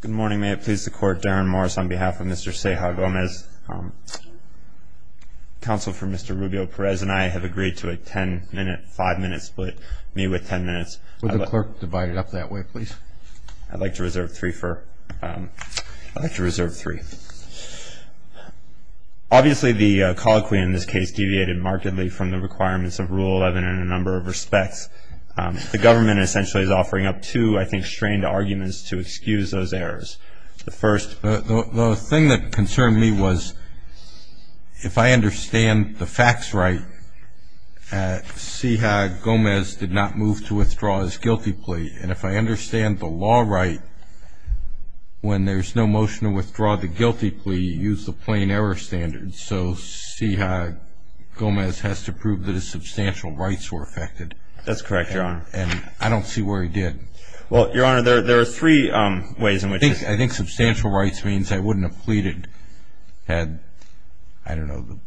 Good morning. May it please the Court, Darren Morris on behalf of Mr. Ceja Gomez. Counsel for Mr. Rubio-Perez and I have agreed to a ten-minute, five-minute split. Meet with ten minutes. Would the clerk divide it up that way, please? I'd like to reserve three for—I'd like to reserve three. Obviously, the colloquy in this case deviated markedly from the requirements of Rule 11 in a number of respects. The government essentially is offering up two, I think, strained arguments to excuse those errors. The first— The thing that concerned me was if I understand the facts right, Ceja Gomez did not move to withdraw his guilty plea. And if I understand the law right, when there's no motion to withdraw the guilty plea, use the plain error standard. So Ceja Gomez has to prove that his substantial rights were affected. That's correct, Your Honor. And I don't see where he did. Well, Your Honor, there are three ways in which— I think substantial rights means I wouldn't have pleaded had, I don't know, the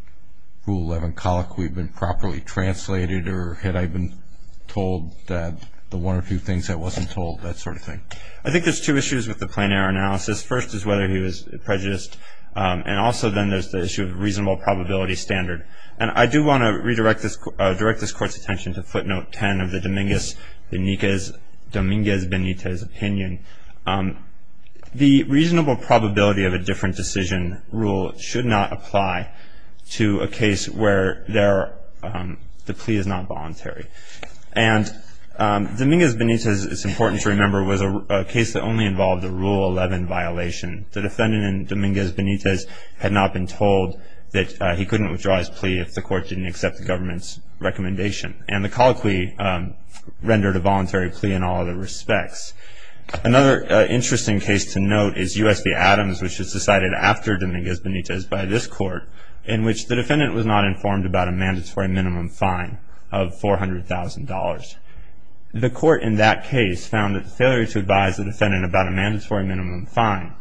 Rule 11 colloquy been properly translated or had I been told the one or two things I wasn't told, that sort of thing. I think there's two issues with the plain error analysis. First is whether he was prejudiced, and also then there's the issue of reasonable probability standard. And I do want to redirect this Court's attention to footnote 10 of the Dominguez-Benitez opinion. The reasonable probability of a different decision rule should not apply to a case where the plea is not voluntary. And Dominguez-Benitez, it's important to remember, was a case that only involved a Rule 11 violation. The defendant in Dominguez-Benitez had not been told that he couldn't withdraw his plea if the Court didn't accept the government's recommendation. And the colloquy rendered a voluntary plea in all other respects. Another interesting case to note is U.S. v. Adams, which was decided after Dominguez-Benitez by this Court, in which the defendant was not informed about a mandatory minimum fine of $400,000. The Court in that case found that the failure to advise the defendant about a mandatory minimum fine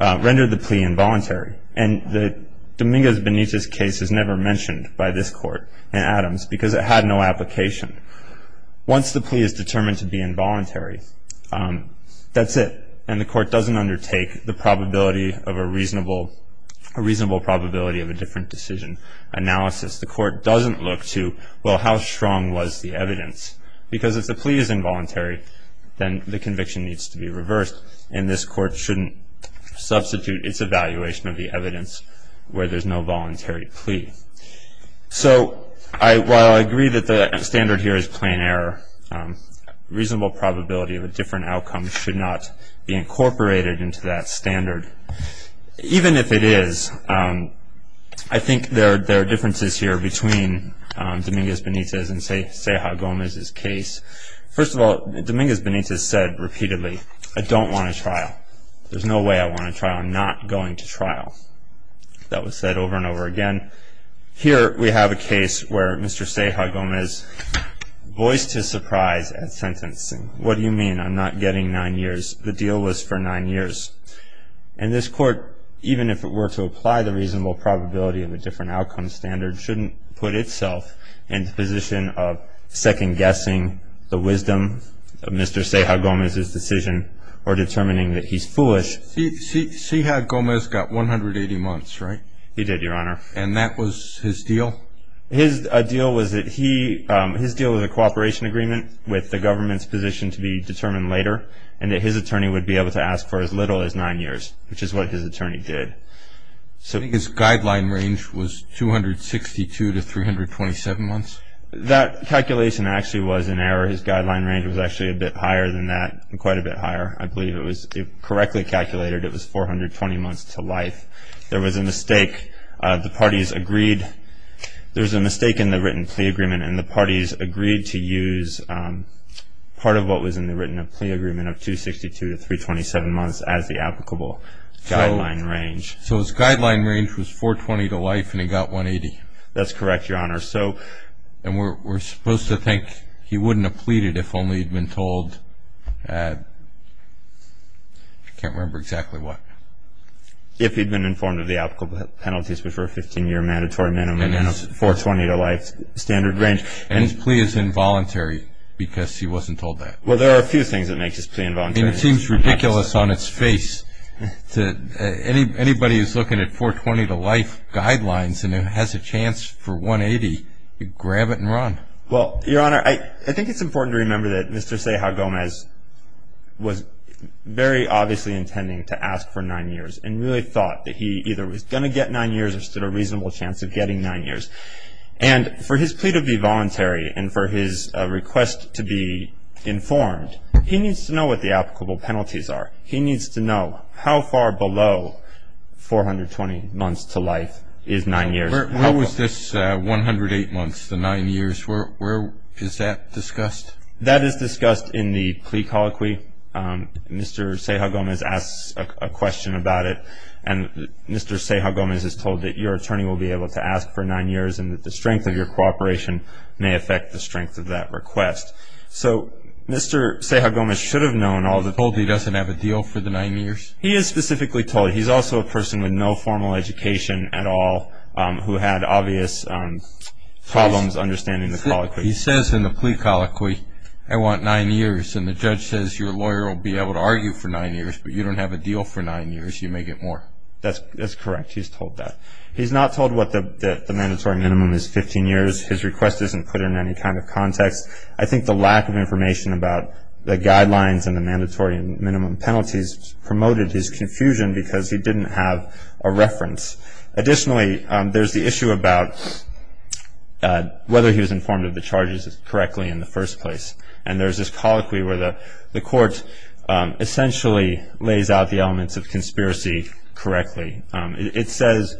rendered the plea involuntary. And the Dominguez-Benitez case is never mentioned by this Court in Adams because it had no application. Once the plea is determined to be involuntary, that's it, and the Court doesn't undertake the probability of a reasonable probability of a different decision analysis. The Court doesn't look to, well, how strong was the evidence? Because if the plea is involuntary, then the conviction needs to be reversed, and this Court shouldn't substitute its evaluation of the evidence where there's no voluntary plea. So while I agree that the standard here is plain error, reasonable probability of a different outcome should not be incorporated into that standard. Even if it is, I think there are differences here between Dominguez-Benitez and Ceja Gomez's case. First of all, Dominguez-Benitez said repeatedly, I don't want a trial. There's no way I want a trial. I'm not going to trial. That was said over and over again. Here we have a case where Mr. Ceja Gomez voiced his surprise at sentencing. What do you mean I'm not getting nine years? The deal was for nine years. And this Court, even if it were to apply the reasonable probability of a different outcome standard, shouldn't put itself in the position of second-guessing the wisdom of Mr. Ceja Gomez's decision or determining that he's foolish. Ceja Gomez got 180 months, right? He did, Your Honor. And that was his deal? His deal was that he, his deal was a cooperation agreement with the government's position to be determined later and that his attorney would be able to ask for as little as nine years, which is what his attorney did. So his guideline range was 262 to 327 months? That calculation actually was an error. His guideline range was actually a bit higher than that, quite a bit higher. I believe it was correctly calculated. It was 420 months to life. There was a mistake. The parties agreed. There was a mistake in the written plea agreement, and the parties agreed to use part of what was in the written plea agreement of 262 to 327 months as the applicable guideline range. So his guideline range was 420 to life and he got 180? That's correct, Your Honor. And we're supposed to think he wouldn't have pleaded if only he'd been told, I can't remember exactly what. If he'd been informed of the applicable penalties, which were a 15-year mandatory minimum, and a 420 to life standard range. And his plea is involuntary because he wasn't told that. Well, there are a few things that make his plea involuntary. It seems ridiculous on its face. Anybody who's looking at 420 to life guidelines and has a chance for 180, grab it and run. Well, Your Honor, I think it's important to remember that Mr. Ceja Gomez was very obviously intending to ask for nine years and really thought that he either was going to get nine years or stood a reasonable chance of getting nine years. And for his plea to be voluntary and for his request to be informed, he needs to know what the applicable penalties are. He needs to know how far below 420 months to life is nine years. Where was this 108 months to nine years? Where is that discussed? That is discussed in the plea colloquy. Mr. Ceja Gomez asks a question about it, and Mr. Ceja Gomez is told that your attorney will be able to ask for nine years and that the strength of your cooperation may affect the strength of that request. So Mr. Ceja Gomez should have known all the time. He's told he doesn't have a deal for the nine years? He is specifically told. He's also a person with no formal education at all who had obvious problems understanding the colloquy. He says in the plea colloquy, I want nine years, and the judge says your lawyer will be able to argue for nine years, but you don't have a deal for nine years. You may get more. That's correct. He's told that. He's not told what the mandatory minimum is, 15 years. His request isn't put in any kind of context. I think the lack of information about the guidelines and the mandatory minimum penalties promoted his confusion because he didn't have a reference. Additionally, there's the issue about whether he was informed of the charges correctly in the first place, and there's this colloquy where the court essentially lays out the elements of conspiracy correctly. It says,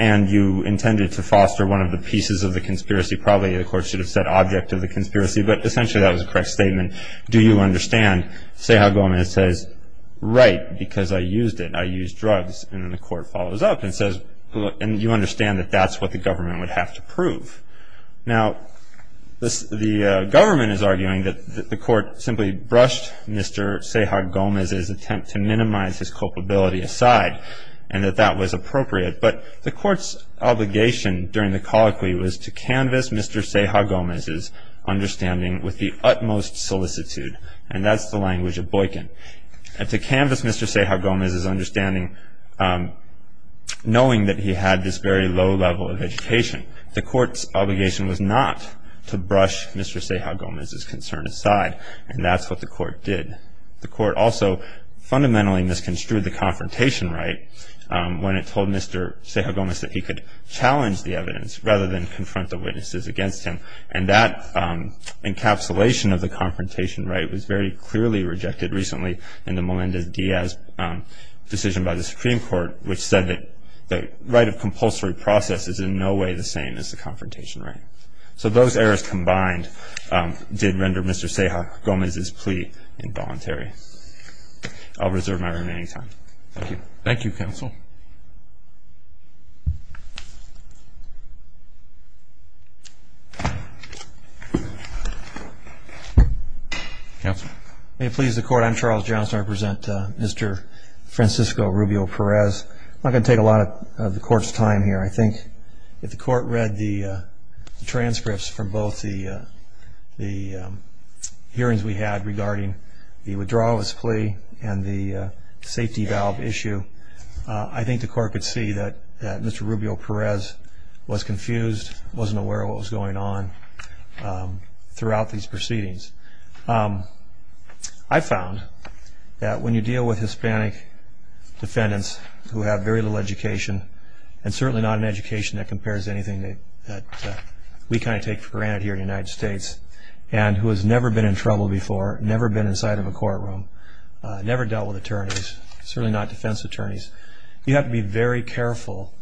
and you intended to foster one of the pieces of the conspiracy. Probably the court should have said object of the conspiracy, but essentially that was a correct statement. Do you understand, Ceja Gomez says, right, because I used it. And then the court follows up and says, and you understand that that's what the government would have to prove. Now, the government is arguing that the court simply brushed Mr. Ceja Gomez's attempt to minimize his culpability aside and that that was appropriate, but the court's obligation during the colloquy was to canvas Mr. Ceja Gomez's understanding with the utmost solicitude, and that's the language of Boykin. To canvas Mr. Ceja Gomez's understanding, knowing that he had this very low level of education, the court's obligation was not to brush Mr. Ceja Gomez's concern aside, and that's what the court did. The court also fundamentally misconstrued the confrontation right when it told Mr. Ceja Gomez that he could challenge the evidence rather than confront the witnesses against him, and that encapsulation of the confrontation right was very clearly rejected recently in the Melendez-Diaz decision by the Supreme Court, which said that the right of compulsory process is in no way the same as the confrontation right. So those errors combined did render Mr. Ceja Gomez's plea involuntary. I'll reserve my remaining time. Thank you. Thank you, counsel. May it please the court, I'm Charles Johnson. I represent Mr. Francisco Rubio Perez. I'm not going to take a lot of the court's time here. I think if the court read the transcripts from both the hearings we had regarding the withdrawal of his plea and the safety valve issue, I think the court could see that Mr. Rubio Perez was confused, wasn't aware of what was going on throughout these proceedings. I found that when you deal with Hispanic defendants who have very little education, and certainly not an education that compares to anything that we kind of take for granted here in the United States, and who has never been in trouble before, never been inside of a courtroom, never dealt with attorneys, certainly not defense attorneys, you have to be very careful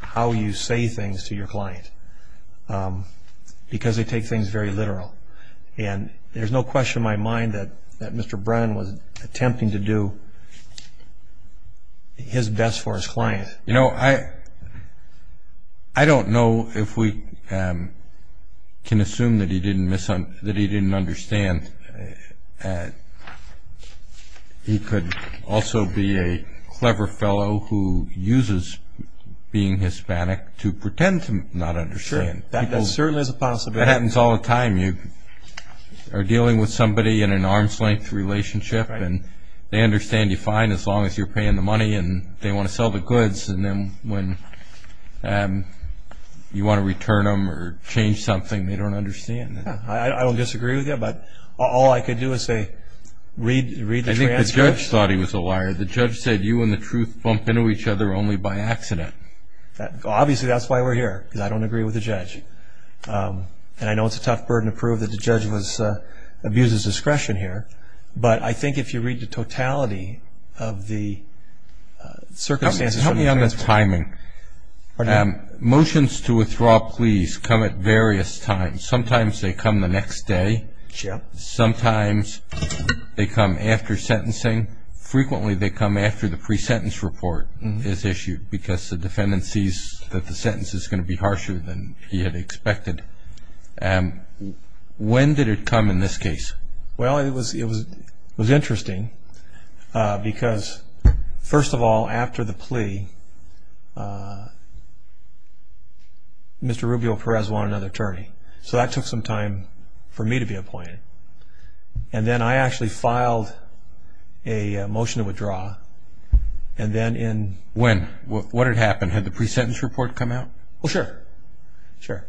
how you say things to your client because they take things very literal. And there's no question in my mind that Mr. Brennan was attempting to do his best for his client. You know, I don't know if we can assume that he didn't understand. He could also be a clever fellow who uses being Hispanic to pretend to not understand. That certainly is a possibility. That happens all the time. You are dealing with somebody in an arm's-length relationship, and they understand you fine as long as you're paying the money and they want to sell the goods, and then when you want to return them or change something, they don't understand. I don't disagree with you, but all I can do is say, read the transcript. I think the judge thought he was a liar. The judge said you and the truth bump into each other only by accident. Obviously, that's why we're here, because I don't agree with the judge. And I know it's a tough burden to prove that the judge abuses discretion here, but I think if you read the totality of the circumstances of the transcript. Help me on the timing. Motions to withdraw pleas come at various times. Sometimes they come the next day. Sometimes they come after sentencing. Frequently they come after the pre-sentence report is issued, because the defendant sees that the sentence is going to be harsher than he had expected. When did it come in this case? Well, it was interesting, because, first of all, after the plea, Mr. Rubio-Perez wanted another attorney. So that took some time for me to be appointed. And then I actually filed a motion to withdraw. When? What had happened? Had the pre-sentence report come out? Well, sure. So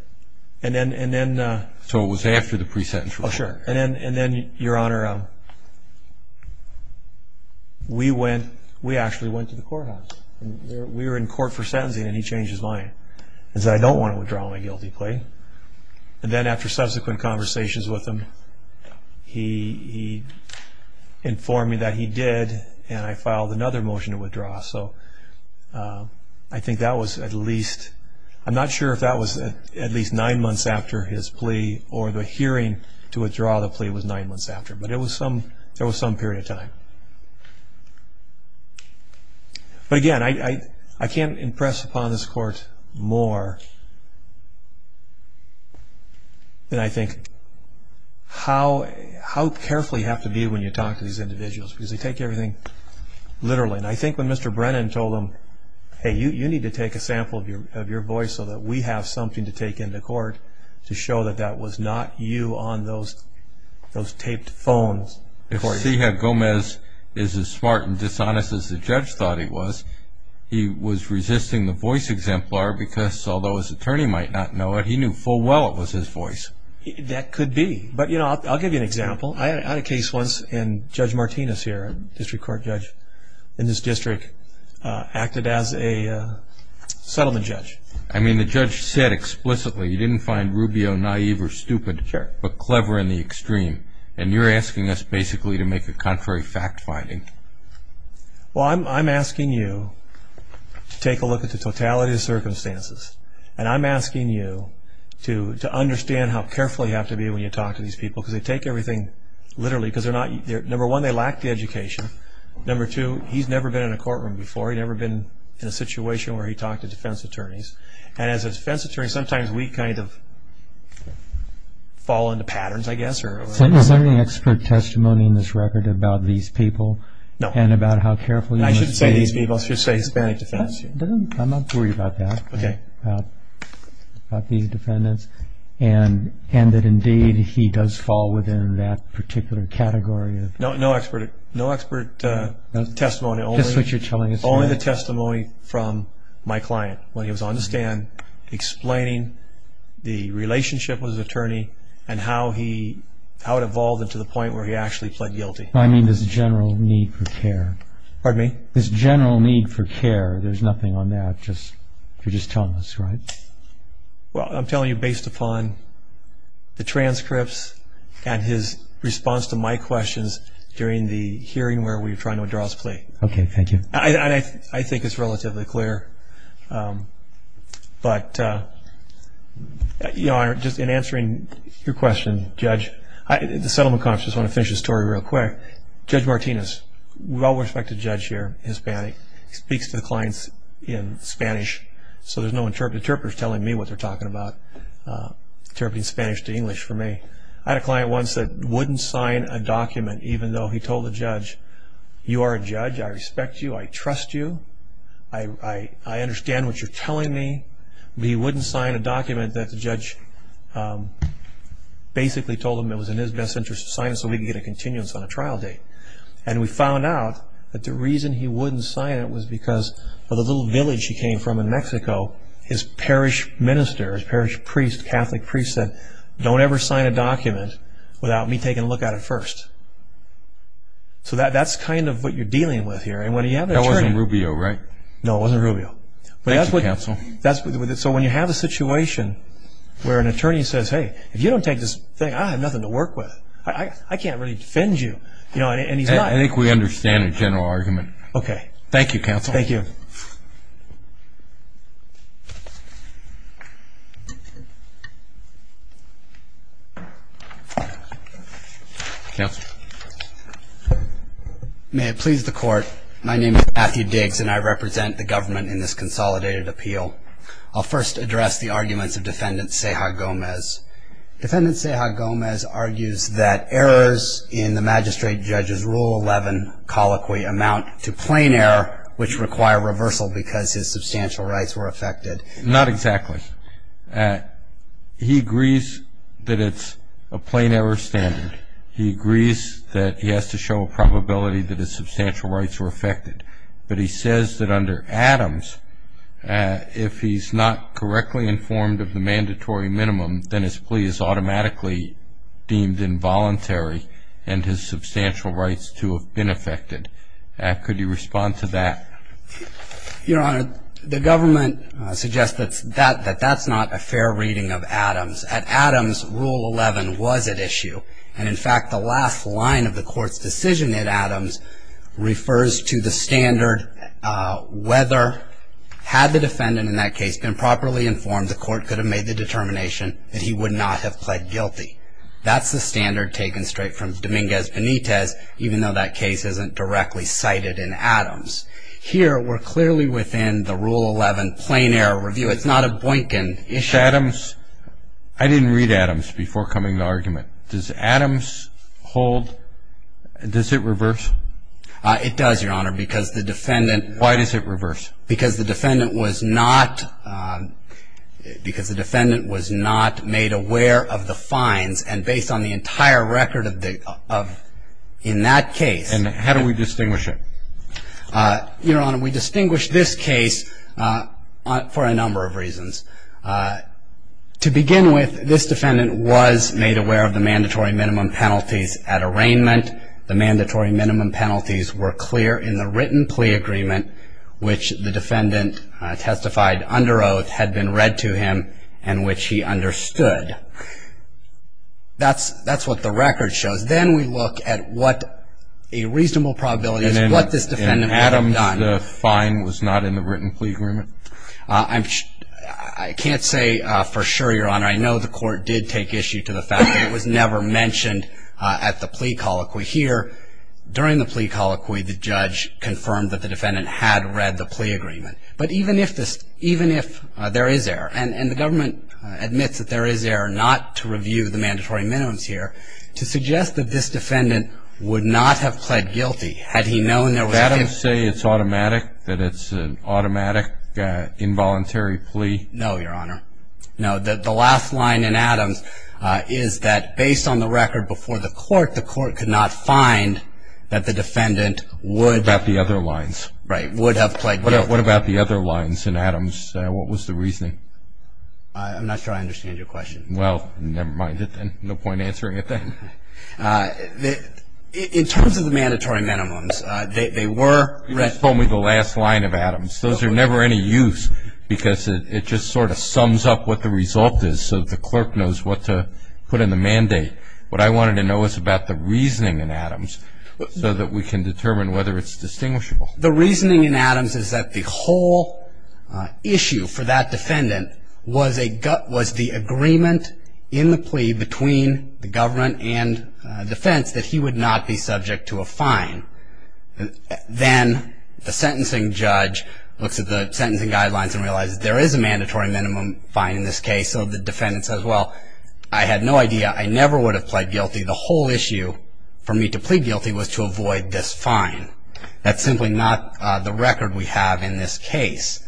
it was after the pre-sentence report. Oh, sure. And then, Your Honor, we actually went to the courthouse. We were in court for sentencing, and he changed his mind. He said, I don't want to withdraw my guilty plea. And then after subsequent conversations with him, he informed me that he did, and I filed another motion to withdraw. So I think that was at least – I'm not sure if that was at least nine months after his plea or the hearing to withdraw the plea was nine months after. But it was some – there was some period of time. But, again, I can't impress upon this Court more than I think how carefully you have to be when you talk to these individuals, because they take everything literally. And I think when Mr. Brennan told them, hey, you need to take a sample of your voice so that we have something to take into court to show that that was not you on those taped phones. If Cihad Gomez is as smart and dishonest as the judge thought he was, he was resisting the voice exemplar because, although his attorney might not know it, he knew full well it was his voice. That could be. But, you know, I'll give you an example. I had a case once, and Judge Martinez here, a district court judge in this district, acted as a settlement judge. I mean, the judge said explicitly he didn't find Rubio naive or stupid, but clever in the extreme. And you're asking us basically to make a contrary fact finding. Well, I'm asking you to take a look at the totality of the circumstances. And I'm asking you to understand how careful you have to be when you talk to these people, because they take everything literally, because they're not – number one, they lack the education. Number two, he's never been in a courtroom before. He's never been in a situation where he talked to defense attorneys. And as a defense attorney, sometimes we kind of fall into patterns, I guess. Is there any expert testimony in this record about these people and about how careful you must be? I shouldn't say these people. I should say Hispanic defense. I'm not worried about that, about these defendants, and that, indeed, he does fall within that particular category. No expert testimony. Just what you're telling us. Only the testimony from my client when he was on the stand explaining the relationship with his attorney and how it evolved into the point where he actually pled guilty. I mean this general need for care. Pardon me? This general need for care. There's nothing on that if you're just telling us, right? Well, I'm telling you based upon the transcripts and his response to my questions during the hearing where we were trying to withdraw his plea. Okay, thank you. I think it's relatively clear. But, Your Honor, just in answering your question, Judge, the settlement conference, I just want to finish this story real quick. Judge Martinez, well-respected judge here, Hispanic, speaks to the clients in Spanish, so there's no interpreters telling me what they're talking about, interpreting Spanish to English for me. I had a client once that wouldn't sign a document even though he told the judge, You are a judge. I respect you. I trust you. I understand what you're telling me. But he wouldn't sign a document that the judge basically told him it was in his best interest to sign so we could get a continuance on a trial date. And we found out that the reason he wouldn't sign it was because of the little village he came from in Mexico, his parish minister, his parish priest, Catholic priest said, Don't ever sign a document without me taking a look at it first. So that's kind of what you're dealing with here. That wasn't Rubio, right? No, it wasn't Rubio. Thank you, counsel. So when you have a situation where an attorney says, Hey, if you don't take this thing, I have nothing to work with. I can't really defend you. I think we understand the general argument. Okay. Thank you, counsel. Thank you. May it please the court, my name is Matthew Diggs and I represent the government in this consolidated appeal. I'll first address the arguments of Defendant Ceja Gomez. Defendant Ceja Gomez argues that errors in the magistrate judge's Rule 11 colloquy amount to plain error, which require reversal because his substantial rights were affected. Not exactly. He agrees that it's a plain error standard. He agrees that he has to show a probability that his substantial rights were affected. But he says that under Adams, if he's not correctly informed of the mandatory minimum, then his plea is automatically deemed involuntary and his substantial rights to have been affected. Could you respond to that? Your Honor, the government suggests that that's not a fair reading of Adams. At Adams, Rule 11 was at issue. And in fact, the last line of the court's decision at Adams refers to the standard whether, had the defendant in that case been properly informed, the court could have made the determination that he would not have pled guilty. That's the standard taken straight from Dominguez Benitez, even though that case isn't directly cited in Adams. Here, we're clearly within the Rule 11 plain error review. It's not a Boykin issue. At Adams, I didn't read Adams before coming to the argument. Does Adams hold, does it reverse? It does, Your Honor, because the defendant- Why does it reverse? Because the defendant was not made aware of the fines, and based on the entire record in that case- And how do we distinguish it? Your Honor, we distinguish this case for a number of reasons. To begin with, this defendant was made aware of the mandatory minimum penalties at arraignment. The mandatory minimum penalties were clear in the written plea agreement, which the defendant testified under oath had been read to him and which he understood. That's what the record shows. Then we look at what a reasonable probability is of what this defendant had done. In Adams, the fine was not in the written plea agreement? I can't say for sure, Your Honor. I know the court did take issue to the fact that it was never mentioned at the plea colloquy. We hear during the plea colloquy the judge confirmed that the defendant had read the plea agreement. But even if there is error, and the government admits that there is error not to review the mandatory minimums here, to suggest that this defendant would not have pled guilty had he known there was a- Does Adams say it's automatic, that it's an automatic, involuntary plea? No, Your Honor. No, the last line in Adams is that based on the record before the court, the court could not find that the defendant would- What about the other lines? Right, would have pled guilty. What about the other lines in Adams? What was the reasoning? I'm not sure I understand your question. Well, never mind it then. No point answering it then. In terms of the mandatory minimums, they were- You just told me the last line of Adams. Those are never any use because it just sort of sums up what the result is so the clerk knows what to put in the mandate. What I wanted to know was about the reasoning in Adams so that we can determine whether it's distinguishable. The reasoning in Adams is that the whole issue for that defendant was a- was the agreement in the plea between the government and defense that he would not be subject to a fine. Then the sentencing judge looks at the sentencing guidelines and realizes there is a mandatory minimum fine in this case so the defendant says, well, I had no idea. I never would have pled guilty. The whole issue for me to plead guilty was to avoid this fine. That's simply not the record we have in this case.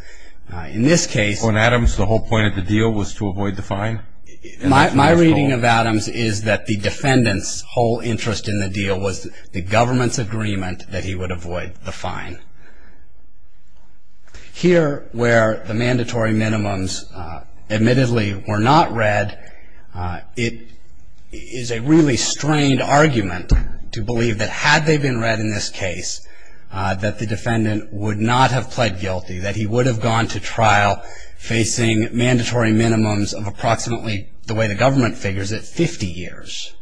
In this case- On Adams, the whole point of the deal was to avoid the fine? My reading of Adams is that the defendant's whole interest in the deal was the government's agreement that he would avoid the fine. Here where the mandatory minimums admittedly were not read, it is a really strained argument to believe that had they been read in this case, that the defendant would not have pled guilty, that he would have gone to trial facing mandatory minimums of approximately, the way the government figures it, 50 years.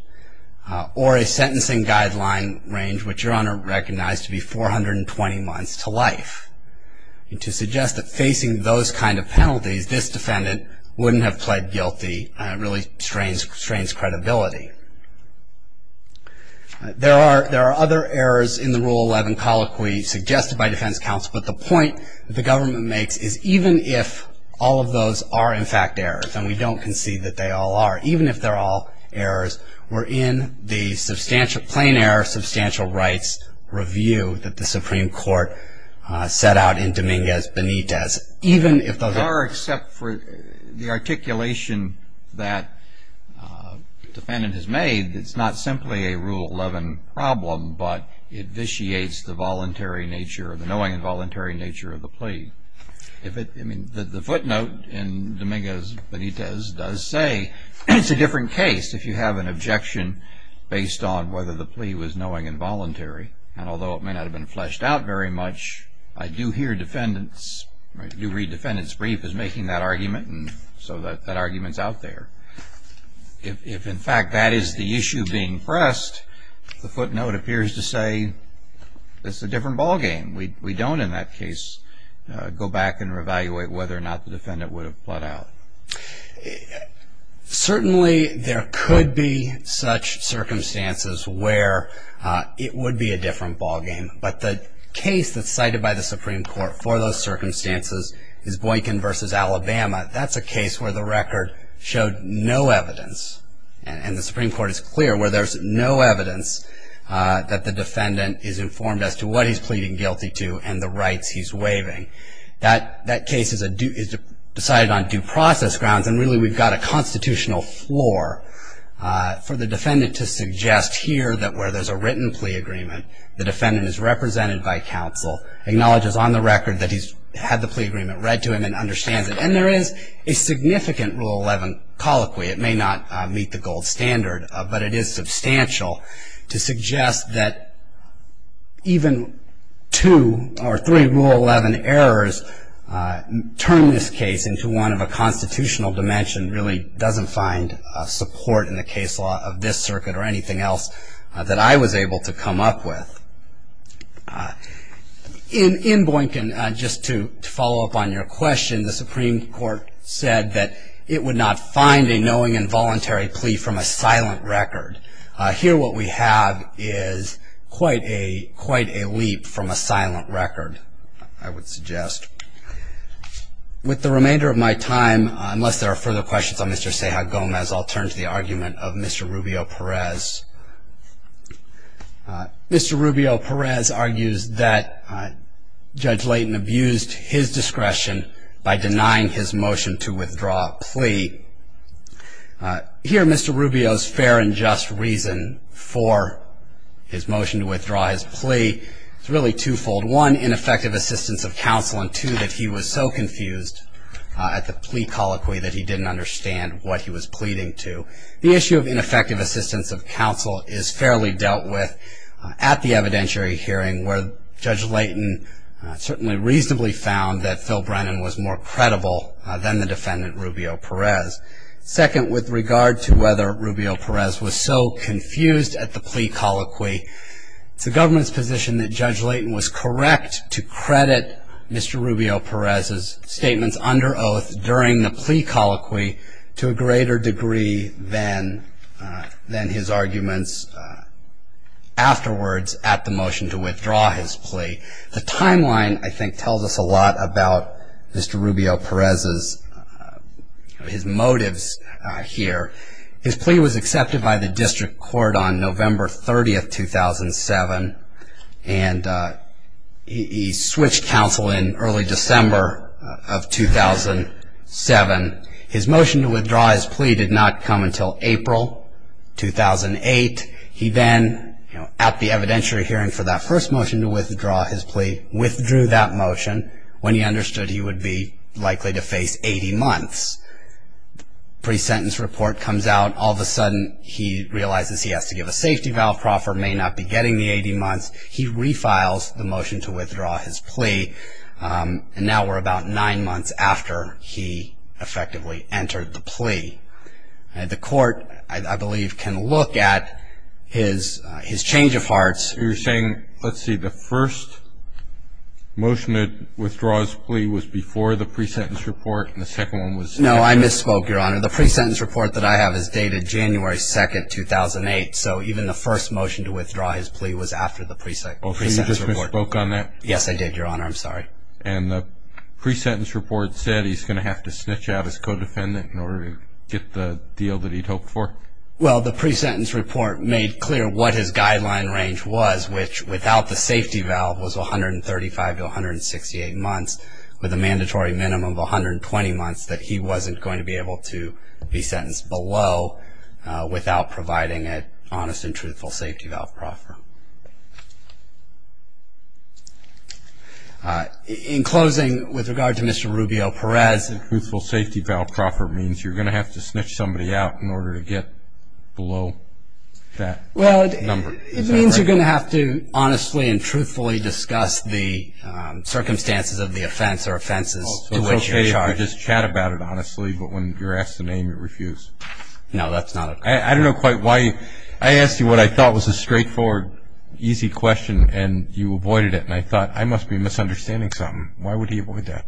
Or a sentencing guideline range, which your Honor recognized to be 420 months to life. To suggest that facing those kind of penalties, this defendant wouldn't have pled guilty, really strains credibility. There are other errors in the Rule 11 colloquy suggested by defense counsel, but the point the government makes is even if all of those are in fact errors, and we don't concede that they all are, even if they're all errors, we're in the plain error of substantial rights review that the Supreme Court set out in Dominguez Benitez. Even if those- There are, except for the articulation that the defendant has made, it's not simply a Rule 11 problem, but it vitiates the knowing and voluntary nature of the plea. The footnote in Dominguez Benitez does say it's a different case if you have an objection based on whether the plea was knowing and voluntary. And although it may not have been fleshed out very much, I do hear defendants, I do read defendants' brief as making that argument, and so that argument's out there. If in fact that is the issue being pressed, the footnote appears to say it's a different ballgame. We don't in that case go back and re-evaluate whether or not the defendant would have bled out. Certainly there could be such circumstances where it would be a different ballgame, but the case that's cited by the Supreme Court for those circumstances is Boykin v. Alabama. That's a case where the record showed no evidence, and the Supreme Court is clear where there's no evidence that the defendant is informed as to what he's pleading guilty to and the rights he's waiving. That case is decided on due process grounds, and really we've got a constitutional floor for the defendant to suggest here that where there's a written plea agreement, the defendant is represented by counsel, acknowledges on the record that he's had the plea agreement read to him and understands it. And there is a significant Rule 11 colloquy. It may not meet the gold standard, but it is substantial to suggest that even two or three Rule 11 errors turn this case into one of a constitutional dimension really doesn't find support in the case law of this circuit or anything else that I was able to come up with. In Boykin, just to follow up on your question, the Supreme Court said that it would not find a knowing and voluntary plea from a silent record. Here what we have is quite a leap from a silent record, I would suggest. With the remainder of my time, unless there are further questions on Mr. Ceja Gomez, I'll turn to the argument of Mr. Rubio Perez. Mr. Rubio Perez argues that Judge Layton abused his discretion by denying his motion to withdraw a plea. Here Mr. Rubio's fair and just reason for his motion to withdraw his plea is really twofold. One, ineffective assistance of counsel, and two, that he was so confused at the plea colloquy that he didn't understand what he was pleading to. The issue of ineffective assistance of counsel is fairly dealt with at the evidentiary hearing where Judge Layton certainly reasonably found that Phil Brennan was more credible than the defendant, Rubio Perez. Second, with regard to whether Rubio Perez was so confused at the plea colloquy, it's the government's position that Judge Layton was correct to credit Mr. Rubio Perez's statements under oath during the plea colloquy to a greater degree than his arguments afterwards at the motion to withdraw his plea. The timeline, I think, tells us a lot about Mr. Rubio Perez's motives here. His plea was accepted by the district court on November 30, 2007, and he switched counsel in early December of 2007. His motion to withdraw his plea did not come until April 2008. He then, at the evidentiary hearing for that first motion to withdraw his plea, withdrew that motion when he understood he would be likely to face 80 months. Pre-sentence report comes out. All of a sudden, he realizes he has to give a safety valve proffer, may not be getting the 80 months. He refiles the motion to withdraw his plea, and now we're about nine months after he effectively entered the plea. The court, I believe, can look at his change of hearts. You're saying, let's see, the first motion to withdraw his plea was before the pre-sentence report, and the second one was after? No, I misspoke, Your Honor. The pre-sentence report that I have is dated January 2, 2008, so even the first motion to withdraw his plea was after the pre-sentence report. Oh, so you just misspoke on that? Yes, I did, Your Honor. I'm sorry. And the pre-sentence report said he's going to have to snitch out his codefendant in order to get the deal that he'd hoped for? Well, the pre-sentence report made clear what his guideline range was, which without the safety valve was 135 to 168 months, with a mandatory minimum of 120 months that he wasn't going to be able to be In closing, with regard to Mr. Rubio-Perez, the truthful safety valve proffer means you're going to have to snitch somebody out in order to get below that number? Well, it means you're going to have to honestly and truthfully discuss the circumstances of the offense or offenses to which you're charged. So it's okay if you just chat about it honestly, but when you're asked the name, you refuse? No, that's not it. I don't know quite why. I asked you what I thought was a straightforward, easy question, and you avoided it, and I thought, I must be misunderstanding something. Why would he avoid that?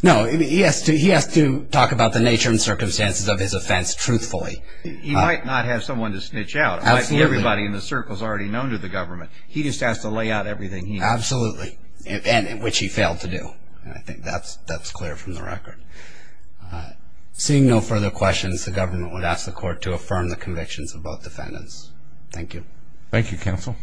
No, he has to talk about the nature and circumstances of his offense truthfully. He might not have someone to snitch out. Everybody in the circle has already known to the government. He just has to lay out everything he knows. Absolutely, and which he failed to do. I think that's clear from the record. Seeing no further questions, the government would ask the court to affirm the convictions of both defendants. Thank you. Thank you, counsel.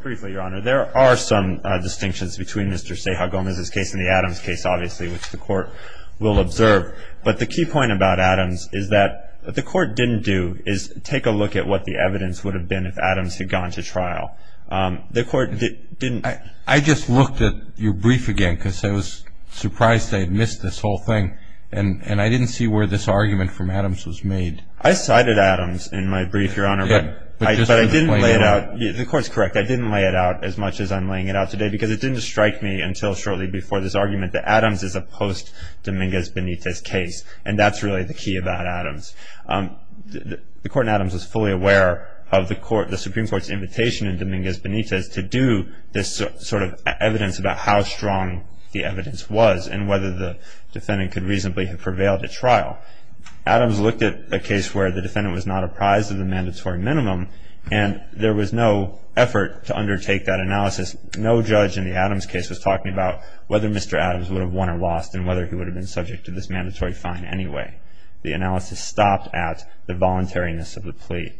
Briefly, Your Honor, there are some distinctions between Mr. Ceja Gomez's case and the Adams case, obviously, which the court will observe. But the key point about Adams is that what the court didn't do is take a look at what the evidence would have been if Adams had gone to trial. The court didn't. I just looked at your brief again because I was surprised I had missed this whole thing, and I didn't see where this argument from Adams was made. I cited Adams in my brief, Your Honor, but I didn't lay it out. The court's correct. I didn't lay it out as much as I'm laying it out today because it didn't strike me until shortly before this argument that Adams is a post-Dominguez Benitez case, and that's really the key about Adams. The court in Adams was fully aware of the Supreme Court's invitation in Dominguez Benitez to do this sort of evidence about how strong the evidence was and whether the defendant could reasonably have prevailed at trial. Adams looked at a case where the defendant was not apprised of the mandatory minimum, and there was no effort to undertake that analysis. No judge in the Adams case was talking about whether Mr. Adams would have won or lost and whether he would have been subject to this mandatory fine anyway. The analysis stopped at the voluntariness of the plea.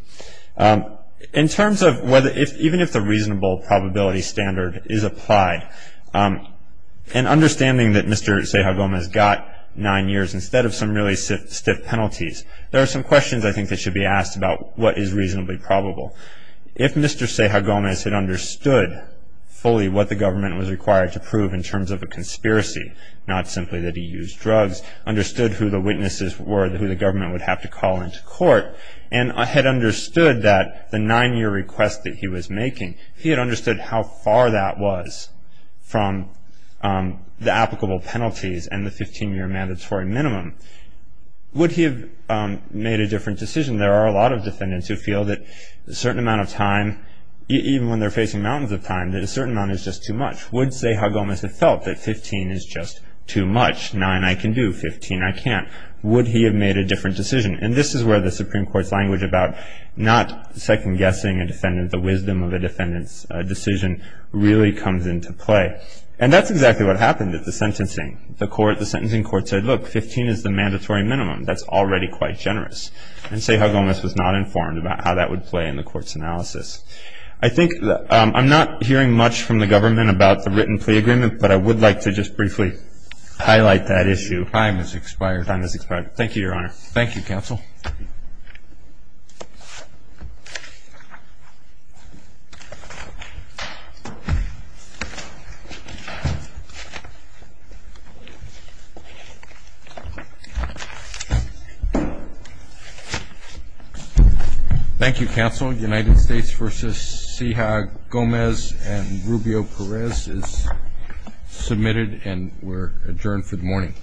In terms of whether, even if the reasonable probability standard is applied, and understanding that Mr. Ceja Gomez got nine years instead of some really stiff penalties, there are some questions I think that should be asked about what is reasonably probable. If Mr. Ceja Gomez had understood fully what the government was required to prove in terms of a conspiracy, not simply that he used drugs, understood who the witnesses were who the government would have to call into court, and had understood that the nine-year request that he was making, he had understood how far that was from the applicable penalties and the 15-year mandatory minimum, would he have made a different decision? There are a lot of defendants who feel that a certain amount of time, even when they're facing mountains of time, that a certain amount is just too much. Would Ceja Gomez have felt that 15 is just too much? Nine I can do, 15 I can't. Would he have made a different decision? And this is where the Supreme Court's language about not second-guessing a defendant, the wisdom of a defendant's decision, really comes into play. And that's exactly what happened at the sentencing. The sentencing court said, look, 15 is the mandatory minimum. That's already quite generous. And Ceja Gomez was not informed about how that would play in the court's analysis. I'm not hearing much from the government about the written plea agreement, but I would like to just briefly highlight that issue. Time has expired. Time has expired. Thank you, Your Honor. Thank you, counsel. Thank you, counsel. United States v. Ceja Gomez and Rubio Perez is submitted, and we're adjourned for the morning.